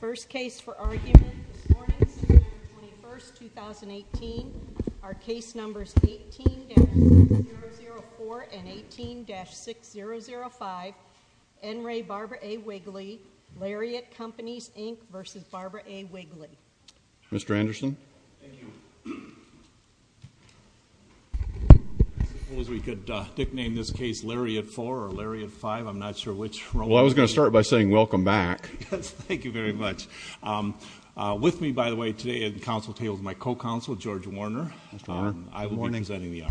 First case for argument this morning, September 21st, 2018, are case numbers 18-004 and 18-6005 N. Ray Barbara A. Wigley, Lariat Companies, Inc. v. Barbara A. Wigley. Mr. Anderson? We could nickname this case Lariat 4 or Lariat 5, I'm not sure which one. Well I was going to start by saying welcome back. Yes, thank you very much. With me, by the way, today at the council table is my co-counsel, George Warner. I will be presenting the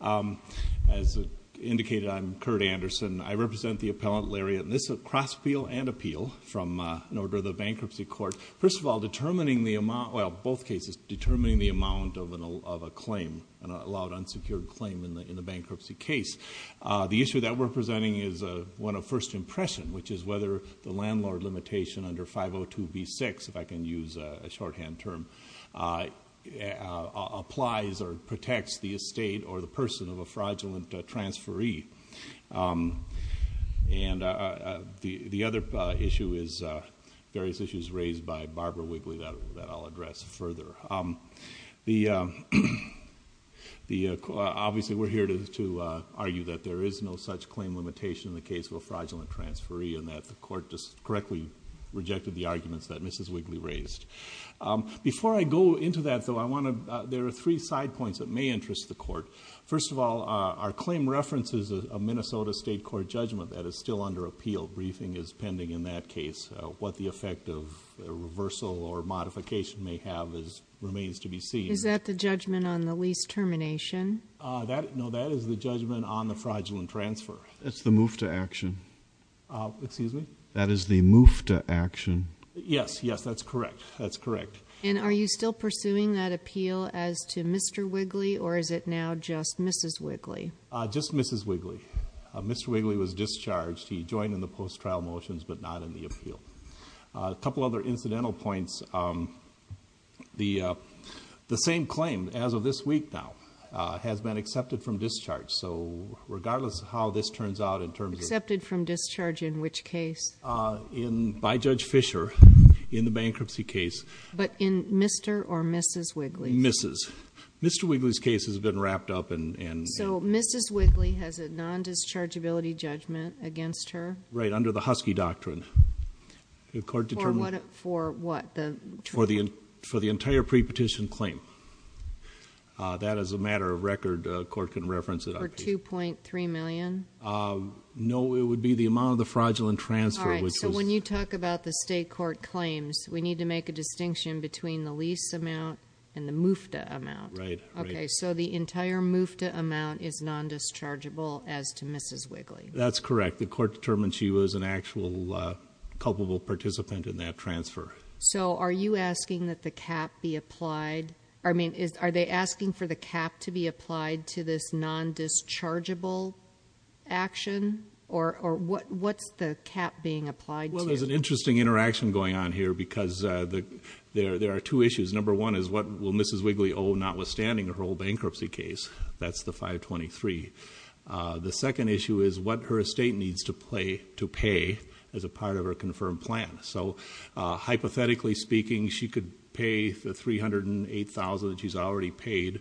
argument. As indicated, I'm Kurt Anderson. I represent the appellant, Lariat, and this is a cross-appeal and appeal from an order of the Bankruptcy Court. First of all, both cases, determining the amount of a claim, an allowed unsecured claim in the bankruptcy case. The issue that we're presenting is one of first impression, which is whether the landlord limitation under 502b6, if I can use a shorthand term, applies or protects the estate or the person of a fraudulent transferee. The other issue is various issues raised by Barbara Wigley that I'll address further. Obviously we're here to argue that there is no such claim limitation in the case of a fraudulent transferee and that the court just correctly rejected the arguments that Mrs. Wigley raised. Before I go into that though, there are three side points that may interest the court. First of all, our claim references a Minnesota state court judgment that is still under appeal. Briefing is pending in that case. What the effect of reversal or modification may have remains to be seen. Is that the judgment on the lease termination? No, that is the judgment on the fraudulent transfer. That's the move to action. Excuse me? That is the move to action. Yes, yes, that's correct. That's correct. And are you still pursuing that appeal as to Mr. Wigley or is it now just Mrs. Wigley? Just Mrs. Wigley. Mr. Wigley was discharged. He joined in the post-trial motions but not in the appeal. A couple other incidental points. The same claim as of this week now has been accepted from discharge. So regardless of how this turns out in terms of... Accepted from discharge in which case? By Judge Fischer in the bankruptcy case. But in Mr. or Mrs. Wigley? Mrs. Mr. Wigley's case has been wrapped up and... So Mrs. Wigley has a non-dischargeability judgment against her? Right, under the Husky Doctrine. The court determined... For what? For the entire pre-petition claim. That is a matter of record. The court can reference it. For $2.3 million? No, it would be the amount of the fraudulent transfer which was... All right, so when you talk about the state court claims, we need to make a distinction between the lease amount and the MUFTA amount. Right, right. Okay, so the entire MUFTA amount is non-dischargeable as to Mrs. Wigley. That's correct. The court determined she was an actual culpable participant in that transfer. So are you asking that the cap be applied... I mean, are they asking for the cap to be applied to this non-dischargeable action? Or what's the cap being applied to? Well, there's an interesting interaction going on here because there are two issues. Number one is what will Mrs. Wigley owe notwithstanding her whole bankruptcy case? That's the 523. The second issue is what her estate needs to pay as a part of her confirmed plan. So, hypothetically speaking, she could pay the $308,000 that she's already paid,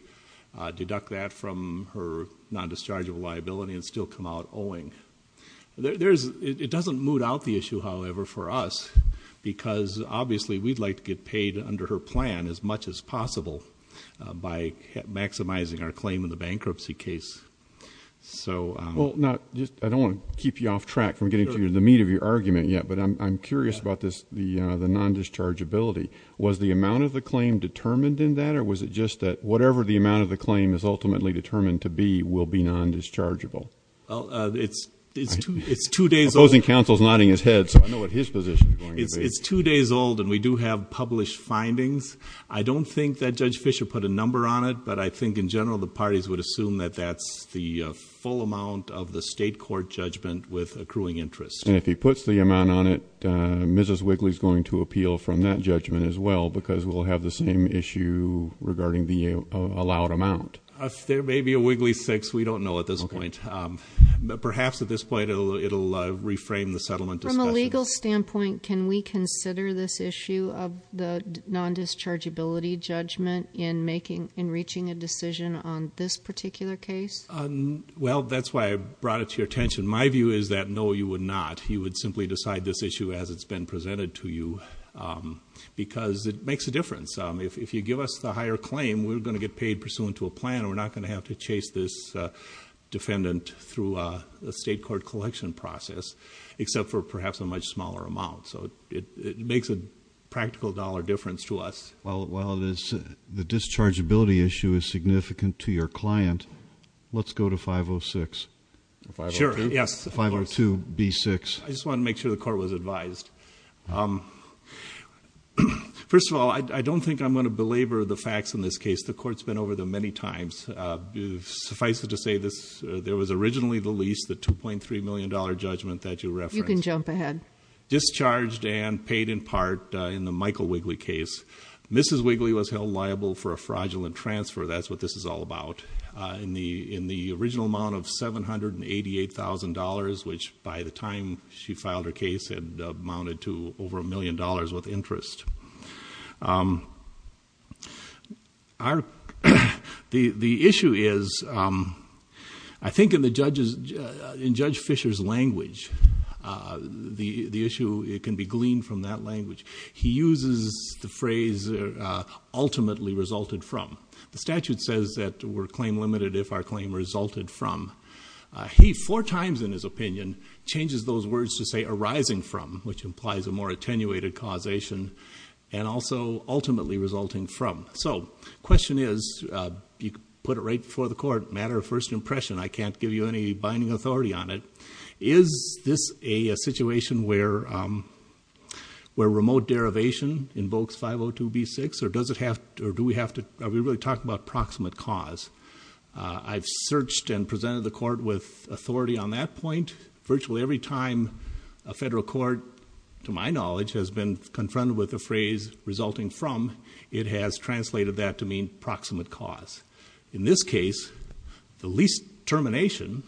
deduct that from her non-dischargeable liability, and still come out owing. It doesn't moot out the issue, however, for us, because obviously we'd like to get paid under her plan as much as possible by maximizing our claim in the bankruptcy case. I don't want to keep you off track from getting to the meat of your argument yet, but I'm curious about the non-dischargeability. Was the amount of the claim determined in that, or was it just that whatever the amount of the claim is ultimately determined to be will be non-dischargeable? It's two days old. The opposing counsel is nodding his head, so I know what his position is going to be. It's two days old, and we do have published findings. I don't think that Judge Fischer put a number on it, but I think in general the parties would assume that that's the full amount of the state court judgment with accruing interest. And if he puts the amount on it, Mrs. Wigley's going to appeal from that judgment as well, because we'll have the same issue regarding the allowed amount. There may be a Wigley 6. We don't know at this point. But perhaps at this point it'll reframe the settlement discussion. From a legal standpoint, can we consider this issue of the non-dischargeability judgment in reaching a decision on this particular case? Well, that's why I brought it to your attention. My view is that no, you would not. You would simply decide this issue as it's been presented to you, because it makes a difference. If you give us the higher claim, we're going to get paid pursuant to a plan, and we're not going to have to chase this defendant through a state court collection process, except for perhaps a much smaller amount. So it makes a practical dollar difference to us. Well, the dischargeability issue is significant to your client. Let's go to 506. Sure, yes. 502B6. I just wanted to make sure the court was advised. First of all, I don't think I'm going to belabor the facts in this case. The court's been over them many times. Suffice it to say, there was originally the lease, the $2.3 million judgment that you referenced. You can jump ahead. Discharged and paid in part in the Michael Wigley case. Mrs. Wigley was held liable for a fraudulent transfer. That's what this is all about, in the original amount of $788,000, which by the time she filed her case had amounted to over $1 million with interest. The issue is, I think in Judge Fisher's language, the issue can be gleaned from that language. He uses the phrase, ultimately resulted from. The statute says that we're claim limited if our claim resulted from. He four times in his opinion changes those words to say arising from, which implies a more attenuated causation, and also ultimately resulting from. The question is, you put it right before the court, matter of first impression. I can't give you any binding authority on it. Is this a situation where remote derivation invokes 502b6, or do we really talk about proximate cause? I've searched and presented the court with authority on that point. Virtually every time a federal court, to my knowledge, has been confronted with the phrase resulting from, it has translated that to mean proximate cause. In this case, the least termination,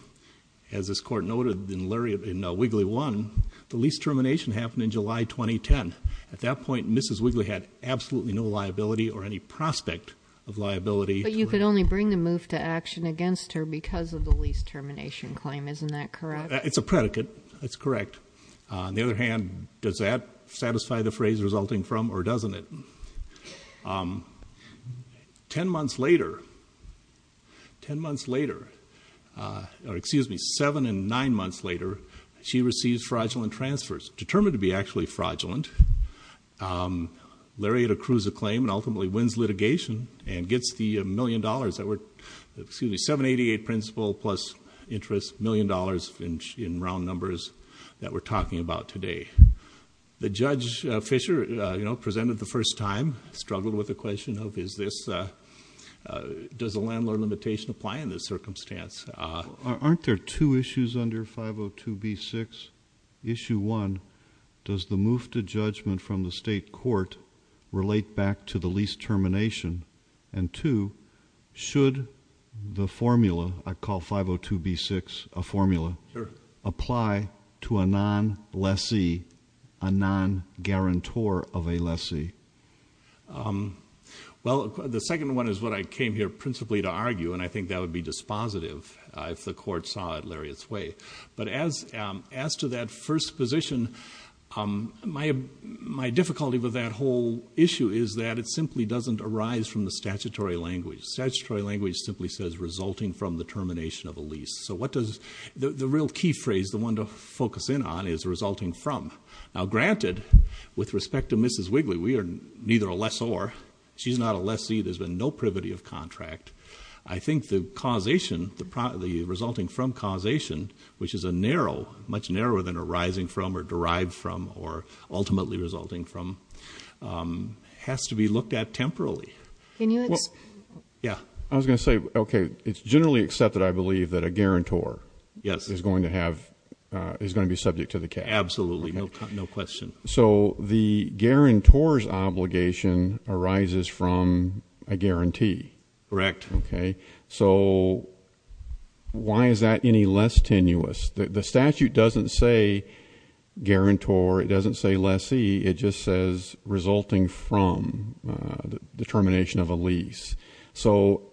as this court noted in Wigley 1, the least termination happened in July 2010. At that point, Mrs. Wigley had absolutely no liability or any prospect of liability. But you could only bring the move to action against her because of the least termination claim. Isn't that correct? It's a predicate. It's correct. On the other hand, does that satisfy the phrase resulting from, or doesn't it? Ten months later, ten months later, or excuse me, seven and nine months later, she receives fraudulent transfers, determined to be actually fraudulent. Lariat accrues a claim and ultimately wins litigation and gets the million dollars that were, excuse me, 788 principal plus interest, million dollars in round numbers that we're talking about today. The Judge Fisher, you know, presented the first time, struggled with the question of is this, does the landlord limitation apply in this circumstance? Aren't there two issues under 502b6? Issue one, does the move to judgment from the state court relate back to the least termination? And two, should the formula, I call 502b6 a formula, apply to a non-lessee, a non-guarantor of a lessee? Well, the second one is what I came here principally to argue, and I think that would be dispositive if the court saw it Lariat's way. But as to that first position, my difficulty with that whole issue is that it simply doesn't arise from the statutory language. Statutory language simply says resulting from the termination of a lease. So what does, the real key phrase, the one to focus in on is resulting from. Now granted, with respect to Mrs. Wigley, we are neither a lessor, she's not a lessee, there's been no privity of contract. I think the causation, the resulting from causation, which is a narrow, much narrower than arising from or derived from or ultimately resulting from, has to be looked at temporally. Can you explain? Yeah. I was going to say, okay, it's generally accepted, I believe, that a guarantor is going to have, is going to be subject to the case. Absolutely, no question. So the guarantor's obligation arises from a guarantee. Correct. Okay. So why is that any less tenuous? The statute doesn't say guarantor, it doesn't say lessee, it just says resulting from the termination of a lease. So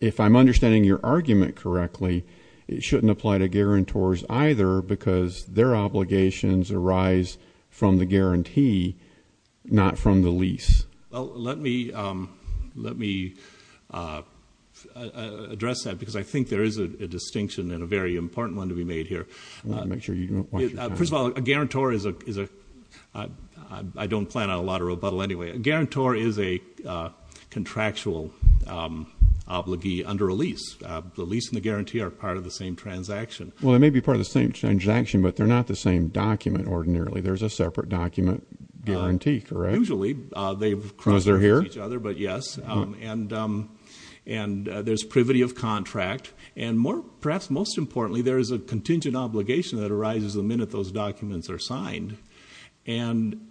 if I'm understanding your argument correctly, it shouldn't apply to guarantors either because their obligations arise from the guarantee, not from the lease. Well, let me address that because I think there is a distinction and a very important one to be made here. First of all, a guarantor is a, I don't plan on a lot of rebuttal anyway, a guarantor is a contractual obligee under a lease. The lease and the guarantee are part of the same transaction. Well, they may be part of the same transaction, but they're not the same document ordinarily. There's a separate document guarantee, correct? Well, usually they cross each other, but yes, and there's privity of contract. And perhaps most importantly, there is a contingent obligation that arises the minute those documents are signed. And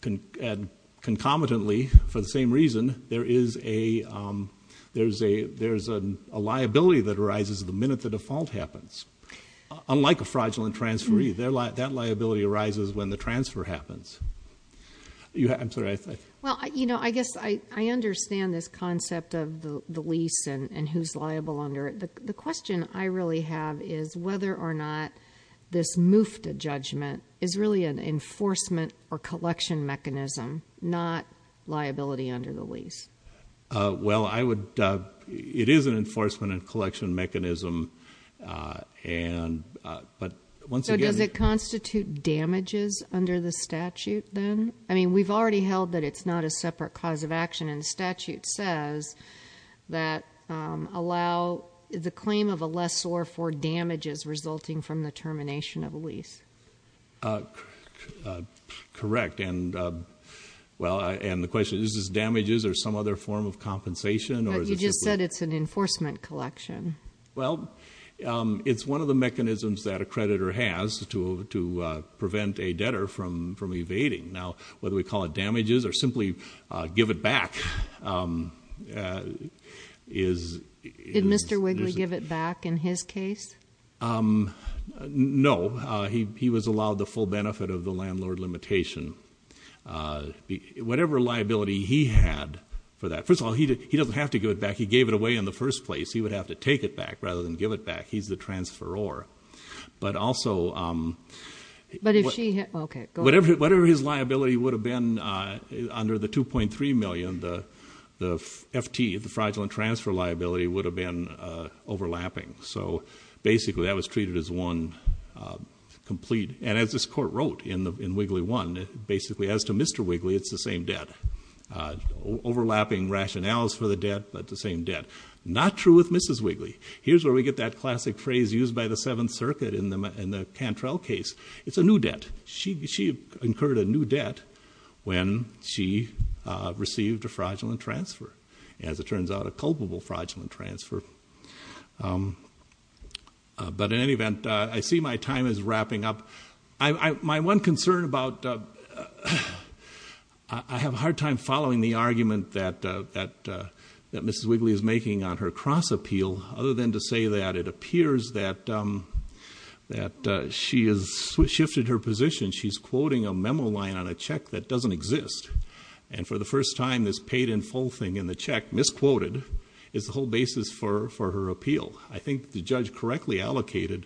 concomitantly, for the same reason, there is a liability that arises the minute the default happens. Unlike a fraudulent transferee, that liability arises when the transfer happens. Well, I guess I understand this concept of the lease and who's liable under it. The question I really have is whether or not this MUFTA judgment is really an enforcement or collection mechanism, not liability under the lease. Well, it is an enforcement and collection mechanism. So does it constitute damages under the statute then? I mean, we've already held that it's not a separate cause of action, and the statute says that allow the claim of a lessor for damages resulting from the termination of a lease. Correct. And the question is, is this damages or some other form of compensation? But you just said it's an enforcement collection. Well, it's one of the mechanisms that a creditor has to prevent a debtor from evading. Now, whether we call it damages or simply give it back is... Did Mr. Wigley give it back in his case? No. He was allowed the full benefit of the landlord limitation. Whatever liability he had for that, first of all, he doesn't have to give it back. He gave it away in the first place. He would have to take it back rather than give it back. He's the transferor. But also, whatever his liability would have been under the $2.3 million, the FT, the fraudulent transfer liability, would have been overlapping. So, basically, that was treated as one complete... And as this court wrote in Wigley 1, basically, as to Mr. Wigley, it's the same debt. Overlapping rationales for the debt, but the same debt. Not true with Mrs. Wigley. Here's where we get that classic phrase used by the Seventh Circuit in the Cantrell case. It's a new debt. She incurred a new debt when she received a fraudulent transfer, as it turns out, a culpable fraudulent transfer. But in any event, I see my time is wrapping up. My one concern about... I have a hard time following the argument that Mrs. Wigley is making on her cross-appeal, other than to say that it appears that she has shifted her position. She's quoting a memo line on a check that doesn't exist. And for the first time, this paid-in-full thing in the check, misquoted, is the whole basis for her appeal. I think the judge correctly allocated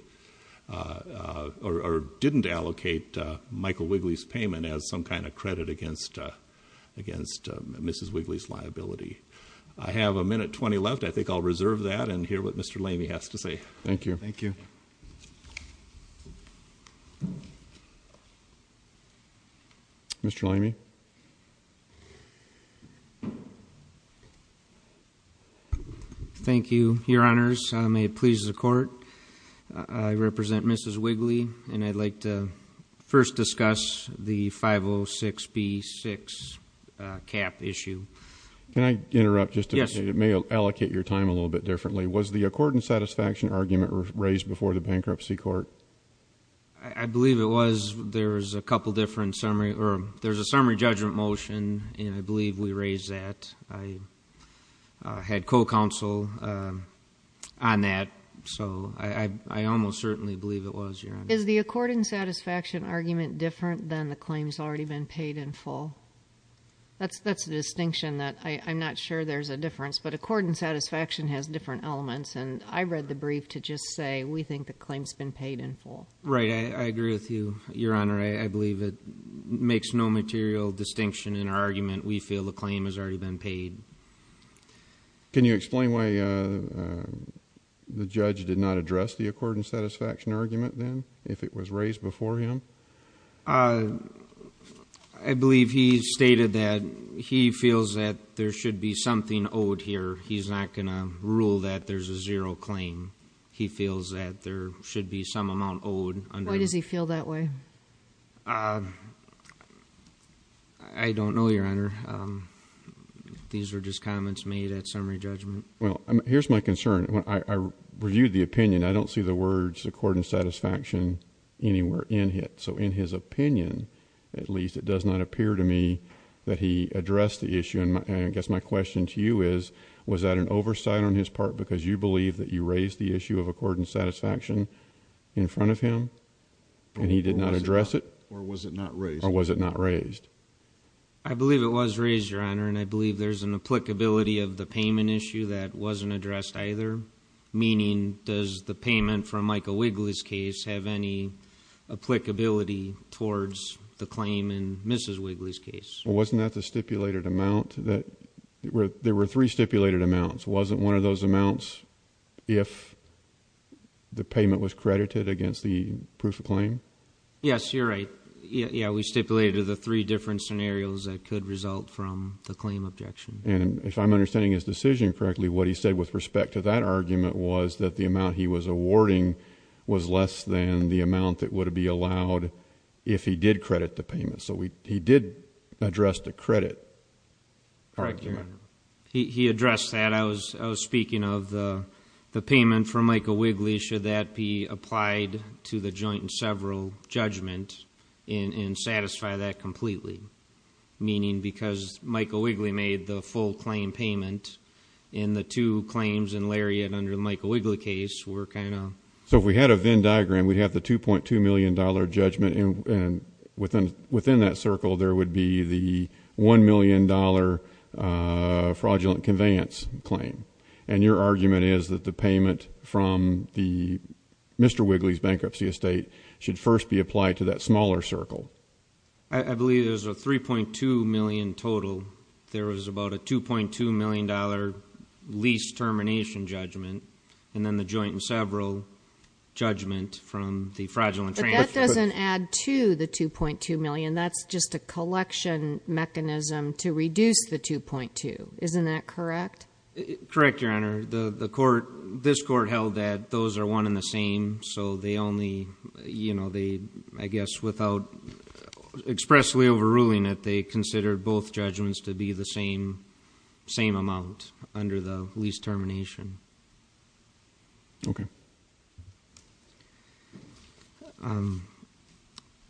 or didn't allocate Michael Wigley's payment as some kind of credit against Mrs. Wigley's liability. I have a minute 20 left. I think I'll reserve that and hear what Mr. Lamey has to say. Thank you. Thank you. Thank you. Mr. Lamey. Thank you, Your Honors. May it please the Court, I represent Mrs. Wigley, and I'd like to first discuss the 506B6 cap issue. Can I interrupt just a minute? Yes. It may allocate your time a little bit differently. Was the accordant satisfaction argument raised before the bankruptcy court? I believe it was. There's a summary judgment motion, and I believe we raised that. I had co-counsel on that, so I almost certainly believe it was, Your Honor. Is the accordant satisfaction argument different than the claims already been paid in full? That's a distinction that I'm not sure there's a difference, but accordant satisfaction has different elements, and I read the brief to just say we think the claim's been paid in full. Right. I agree with you, Your Honor. I believe it makes no material distinction in our argument. We feel the claim has already been paid. Can you explain why the judge did not address the accordant satisfaction argument then, if it was raised before him? I believe he stated that he feels that there should be something owed here. He's not going to rule that there's a zero claim. He feels that there should be some amount owed. Why does he feel that way? I don't know, Your Honor. These were just comments made at summary judgment. Well, here's my concern. I reviewed the opinion. I don't see the words accordant satisfaction anywhere in it. So in his opinion, at least, it does not appear to me that he addressed the issue. I guess my question to you is, was that an oversight on his part because you believe that you raised the issue of accordant satisfaction in front of him and he did not address it? Or was it not raised? Or was it not raised? I believe it was raised, Your Honor, and I believe there's an applicability of the payment issue that wasn't addressed either, meaning does the payment from Michael Wigley's case have any applicability towards the claim in Mrs. Wigley's case? Well, wasn't that the stipulated amount? There were three stipulated amounts. Wasn't one of those amounts if the payment was credited against the proof of claim? Yes, you're right. Yeah, we stipulated the three different scenarios that could result from the claim objection. And if I'm understanding his decision correctly, what he said with respect to that argument was that the amount he was awarding was less than the amount that would be allowed if he did credit the payment. So he did address the credit. Correct, Your Honor. He addressed that. I was speaking of the payment from Michael Wigley. Should that be applied to the joint and several judgment and satisfy that completely? Meaning because Michael Wigley made the full claim payment and the two claims in Lariat under the Michael Wigley case were kind of... So if we had a Venn diagram, we'd have the $2.2 million judgment, and within that circle there would be the $1 million fraudulent conveyance claim. And your argument is that the payment from Mr. Wigley's bankruptcy estate should first be applied to that smaller circle. I believe there's a $3.2 million total. There was about a $2.2 million lease termination judgment and then the joint and several judgment from the fraudulent transaction. But that doesn't add to the $2.2 million. That's just a collection mechanism to reduce the $2.2. Isn't that correct? Correct, Your Honor. This court held that those are one and the same, so they only, I guess, without expressly overruling it, they considered both judgments to be the same amount under the lease termination. Okay.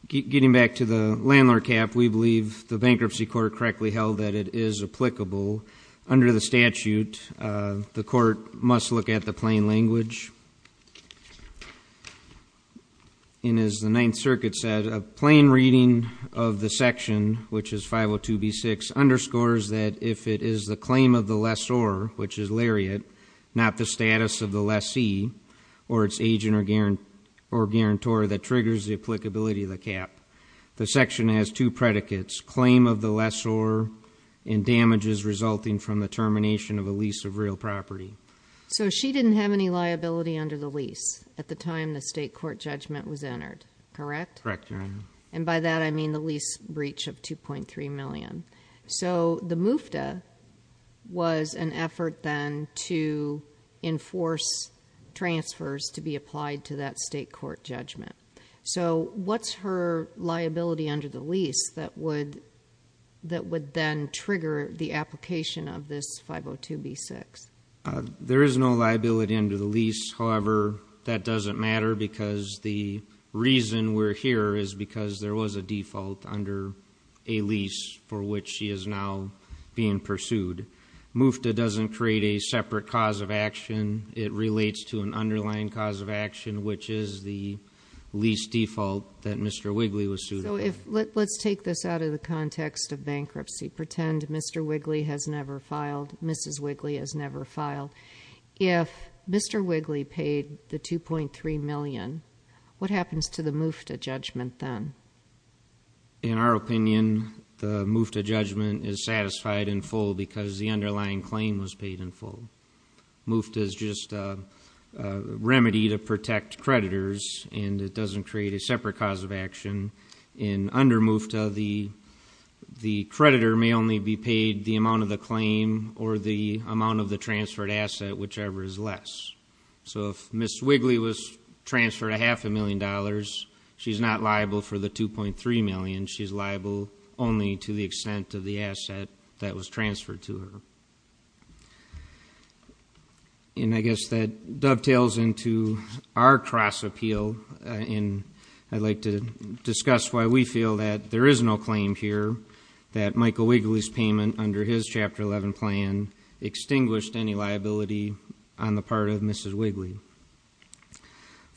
Getting back to the landlord cap, we believe the bankruptcy court correctly held that it is applicable. Under the statute, the court must look at the plain language. And as the Ninth Circuit said, a plain reading of the section, which is 502B6, underscores that if it is the claim of the lessor, which is Lariat, not the status of the lessee or its agent or guarantor that triggers the applicability of the cap. The section has two predicates, claim of the lessor and damages resulting from the termination of a lease of real property. So she didn't have any liability under the lease at the time the state court judgment was entered, correct? Correct, Your Honor. And by that, I mean the lease breach of $2.3 million. So the MUFTA was an effort then to enforce transfers to be applied to that state court judgment. So what's her liability under the lease that would then trigger the application of this 502B6? There is no liability under the lease. However, that doesn't matter because the reason we're here is because there was a default under a lease for which she is now being pursued. MUFTA doesn't create a separate cause of action. It relates to an underlying cause of action, which is the lease default that Mr. Wigley was sued for. So let's take this out of the context of bankruptcy. Pretend Mr. Wigley has never filed, Mrs. Wigley has never filed. If Mr. Wigley paid the $2.3 million, what happens to the MUFTA judgment then? In our opinion, the MUFTA judgment is satisfied in full because the underlying claim was paid in full. MUFTA is just a remedy to protect creditors, and it doesn't create a separate cause of action. And under MUFTA, the creditor may only be paid the amount of the claim or the amount of the transferred asset, whichever is less. So if Ms. Wigley was transferred a half a million dollars, she's not liable for the $2.3 million. She's liable only to the extent of the asset that was transferred to her. And I guess that dovetails into our cross-appeal, and I'd like to discuss why we feel that there is no claim here that Michael Wigley's payment under his Chapter 11 plan extinguished any liability on the part of Mrs. Wigley.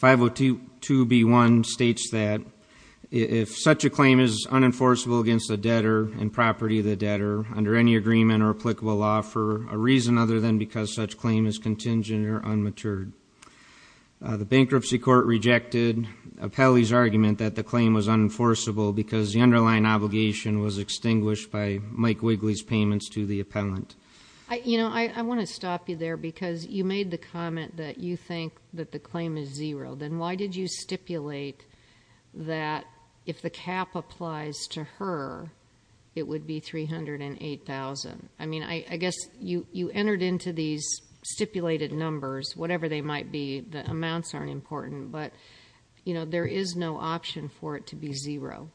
502B1 states that if such a claim is unenforceable against the debtor and property of the debtor under any agreement or applicable law for a reason other than because such claim is contingent or unmatured. The bankruptcy court rejected Appelli's argument that the claim was unenforceable because the underlying obligation was extinguished by Mike Wigley's payments to the appellant. You know, I want to stop you there because you made the comment that you think that the claim is zero. Then why did you stipulate that if the cap applies to her, it would be $308,000? I mean, I guess you entered into these stipulated numbers, whatever they might be. The amounts aren't important, but, you know, there is no option for it to be zero.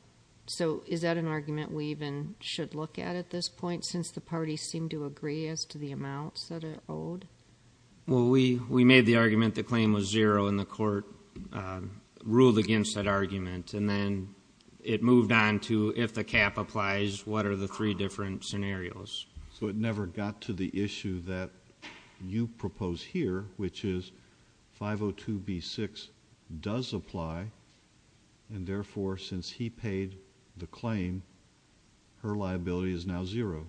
So is that an argument we even should look at at this point since the parties seem to agree as to the amounts that are owed? Well, we made the argument the claim was zero, and the court ruled against that argument, and then it moved on to if the cap applies, what are the three different scenarios? So it never got to the issue that you propose here, which is 502B6 does apply, and therefore since he paid the claim, her liability is now zero.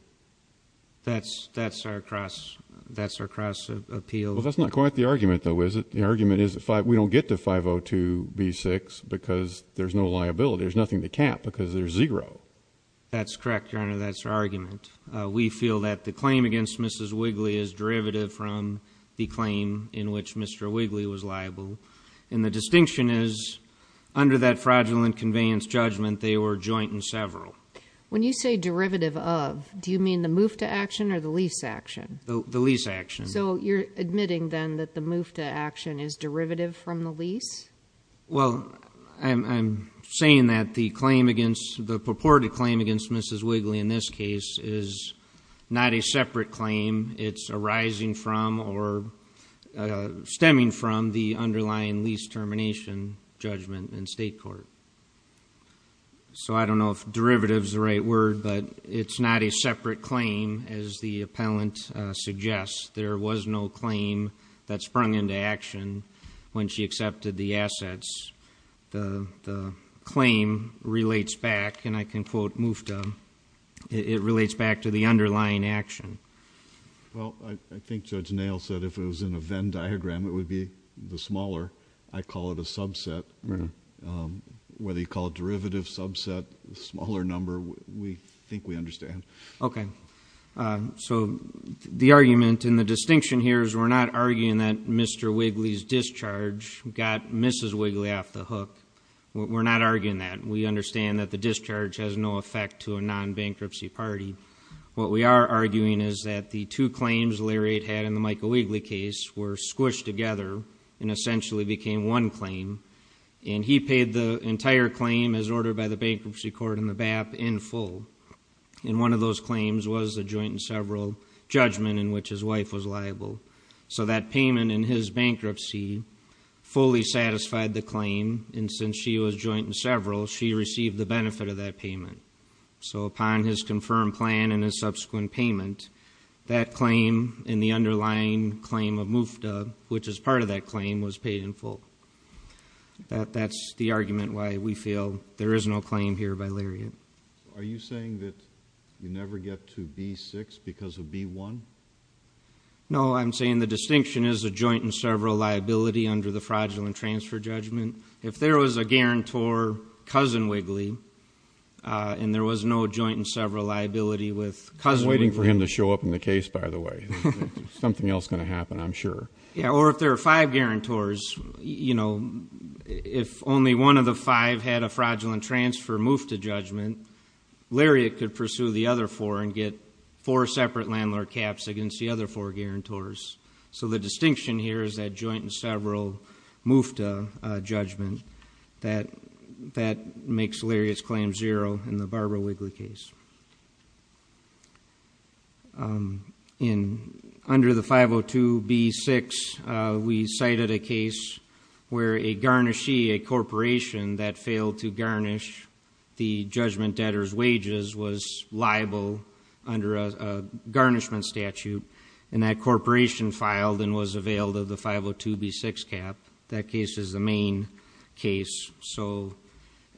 That's our cross appeal. Well, that's not quite the argument, though, is it? The argument is we don't get to 502B6 because there's no liability. There's nothing to cap because there's zero. That's correct, Your Honor. That's our argument. We feel that the claim against Mrs. Wigley is derivative from the claim in which Mr. Wigley was liable, and the distinction is under that fraudulent conveyance judgment, they were joint and several. When you say derivative of, do you mean the move to action or the lease action? The lease action. So you're admitting then that the move to action is derivative from the lease? Well, I'm saying that the purported claim against Mrs. Wigley in this case is not a separate claim. It's arising from or stemming from the underlying lease termination judgment in state court. So I don't know if derivative is the right word, but it's not a separate claim, as the appellant suggests. There was no claim that sprung into action when she accepted the assets. The claim relates back, and I can quote MUFTA, it relates back to the underlying action. Well, I think Judge Nail said if it was in a Venn diagram, it would be the smaller. I call it a subset. Whether you call it derivative, subset, smaller number, we think we understand. Okay. So the argument and the distinction here is we're not arguing that Mr. Wigley's discharge got Mrs. Wigley off the hook. We're not arguing that. We understand that the discharge has no effect to a non-bankruptcy party. What we are arguing is that the two claims Lariat had in the Michael Wigley case were squished together and essentially became one claim, and he paid the entire claim as ordered by the bankruptcy court in the BAP in full. And one of those claims was the joint and several judgment in which his wife was liable. So that payment in his bankruptcy fully satisfied the claim, and since she was joint and several, she received the benefit of that payment. So upon his confirmed plan and his subsequent payment, that claim in the underlying claim of MUFTA, which is part of that claim, was paid in full. That's the argument why we feel there is no claim here by Lariat. Are you saying that you never get to B-6 because of B-1? No, I'm saying the distinction is a joint and several liability under the fraudulent transfer judgment. If there was a guarantor, cousin Wigley, and there was no joint and several liability with cousin Wigley. I'm waiting for him to show up in the case, by the way. Something else is going to happen, I'm sure. Yeah, or if there are five guarantors, you know, if only one of the five had a fraudulent transfer MUFTA judgment, Lariat could pursue the other four and get four separate landlord caps against the other four guarantors. So the distinction here is that joint and several MUFTA judgment. That makes Lariat's claim zero in the Barbara Wigley case. Under the 502 B-6, we cited a case where a garnishee, a corporation that failed to garnish the judgment debtor's wages, was liable under a garnishment statute, and that corporation filed and was availed of the 502 B-6 cap. That case is the main case. So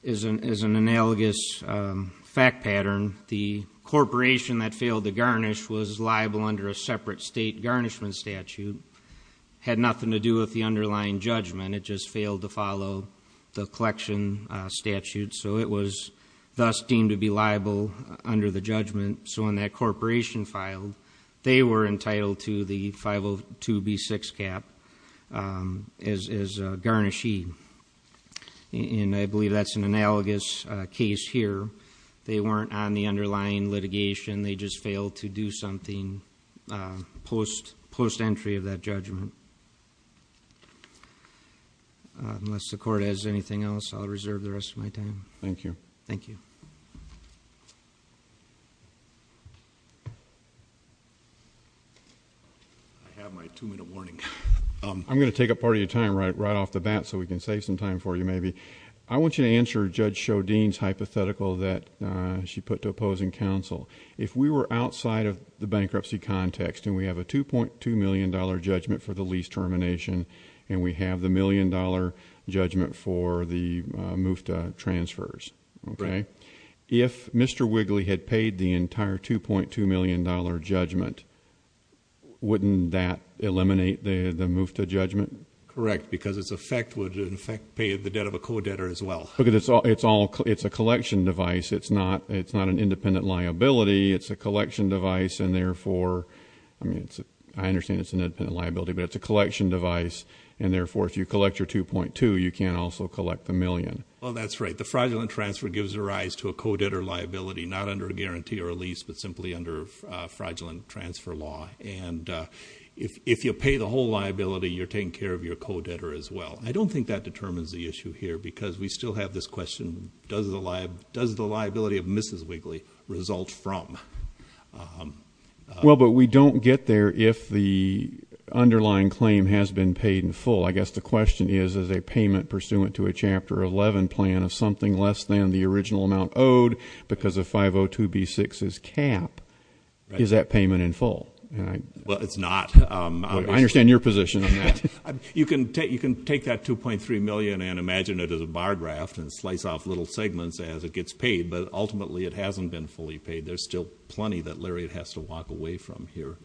as an analogous fact pattern, the corporation that failed to garnish was liable under a separate state garnishment statute. It had nothing to do with the underlying judgment. It just failed to follow the collection statute. So it was thus deemed to be liable under the judgment. So when that corporation filed, they were entitled to the 502 B-6 cap as a garnishee. And I believe that's an analogous case here. They weren't on the underlying litigation. They just failed to do something post-entry of that judgment. Unless the Court has anything else, I'll reserve the rest of my time. Thank you. Thank you. I have my two-minute warning. I'm going to take up part of your time right off the bat so we can save some time for you maybe. I want you to answer Judge Chaudine's hypothetical that she put to opposing counsel. If we were outside of the bankruptcy context and we have a $2.2 million judgment for the lease termination and we have the million-dollar judgment for the MUFTA transfers, okay, if Mr. Wigley had paid the entire $2.2 million judgment, wouldn't that eliminate the MUFTA judgment? Correct, because its effect would, in effect, pay the debt of a co-debtor as well. Look, it's a collection device. It's not an independent liability. It's a collection device, and therefore, I mean, I understand it's an independent liability, but it's a collection device, and therefore, if you collect your $2.2, you can't also collect the million. Well, that's right. The fraudulent transfer gives rise to a co-debtor liability, not under a guarantee or a lease, but simply under fraudulent transfer law. And if you pay the whole liability, you're taking care of your co-debtor as well. I don't think that determines the issue here because we still have this question, does the liability of Mrs. Wigley result from? Well, but we don't get there if the underlying claim has been paid in full. I guess the question is, is a payment pursuant to a Chapter 11 plan of something less than the original amount owed because of 502B6's cap, is that payment in full? Well, it's not. I understand your position on that. You can take that $2.3 million and imagine it as a bar draft and slice off little segments as it gets paid, but ultimately it hasn't been fully paid. There's still plenty that Lariat has to walk away from here.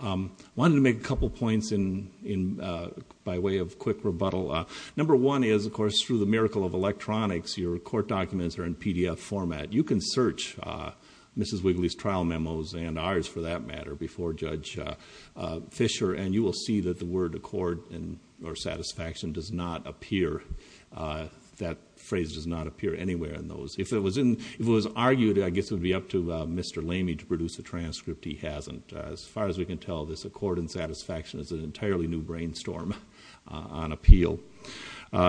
I wanted to make a couple points by way of quick rebuttal. Number one is, of course, through the miracle of electronics, your court documents are in PDF format. You can search Mrs. Wigley's trial memos, and ours for that matter, before Judge Fisher, and you will see that the word accord or satisfaction does not appear. That phrase does not appear anywhere in those. If it was argued, I guess it would be up to Mr. Lamey to produce a transcript. He hasn't. As far as we can tell, this accord and satisfaction is an entirely new brainstorm on appeal.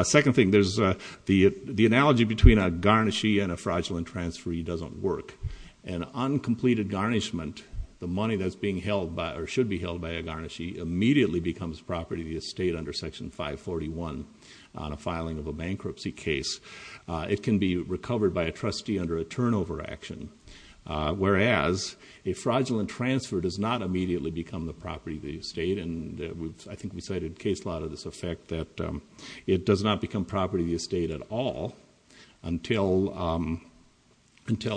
Second thing, the analogy between a garnishee and a fraudulent transferee doesn't work. An uncompleted garnishment, the money that should be held by a garnishee, immediately becomes property of the estate under Section 541 on a filing of a bankruptcy case. It can be recovered by a trustee under a turnover action, whereas a fraudulent transfer does not immediately become the property of the estate, and I think we cited a case law to this effect that it does not become property of the estate at all until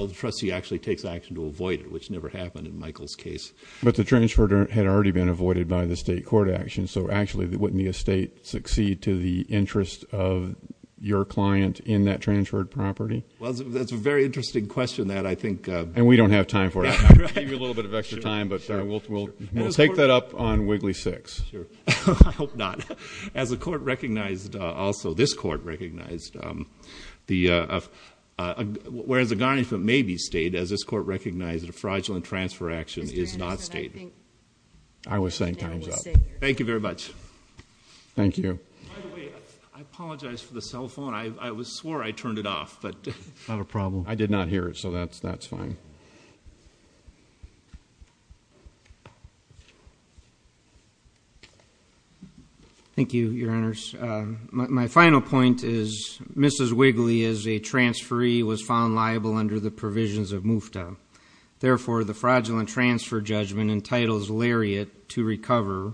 the trustee actually takes action to avoid it, which never happened in Michael's case. But the transfer had already been avoided by the state court action, so actually wouldn't the estate succeed to the interest of your client in that transferred property? Well, that's a very interesting question that I think— And we don't have time for it. I'll give you a little bit of extra time, but we'll take that up on Wigley 6. I hope not. As the court recognized also, this court recognized, whereas a garnishment may be stayed, as this court recognized, a fraudulent transfer action is not stayed. I was saying time's up. Thank you very much. Thank you. By the way, I apologize for the cell phone. I swore I turned it off. Not a problem. I did not hear it, so that's fine. Thank you, Your Honors. My final point is Mrs. Wigley, as a transferee, was found liable under the provisions of MUFTA. Therefore, the fraudulent transfer judgment entitles Lariat to recover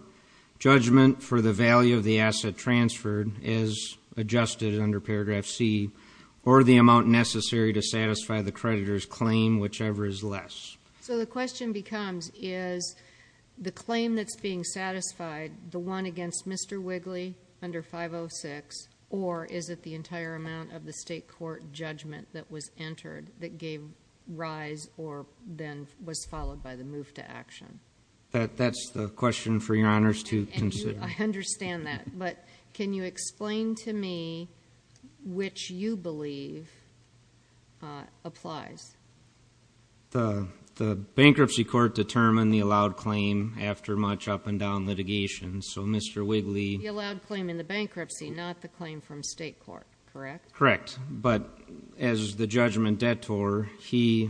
judgment for the value of the asset transferred as adjusted under paragraph C, or the amount necessary to satisfy the creditor's claim, whichever is less. So the question becomes, is the claim that's being satisfied the one against Mr. Wigley under 506, or is it the entire amount of the state court judgment that was entered that gave rise, or then was followed by the MUFTA action? That's the question for Your Honors to consider. I understand that, but can you explain to me which you believe applies? The bankruptcy court determined the allowed claim after much up and down litigation, so Mr. Wigley... The allowed claim in the bankruptcy, not the claim from state court, correct? Correct, but as the judgment detour, he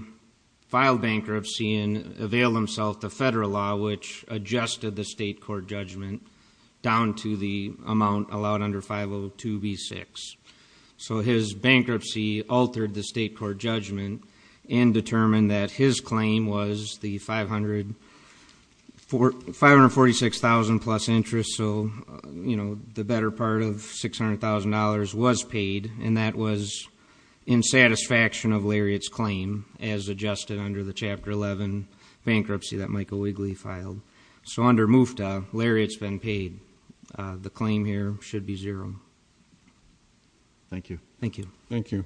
filed bankruptcy and availed himself the federal law, which adjusted the state court judgment down to the amount allowed under 502B6. So his bankruptcy altered the state court judgment and determined that his claim was the 546,000 plus interest, and so the better part of $600,000 was paid, and that was in satisfaction of Lariat's claim as adjusted under the Chapter 11 bankruptcy that Michael Wigley filed. So under MUFTA, Lariat's been paid. The claim here should be zero. Thank you. Thank you. Thank you.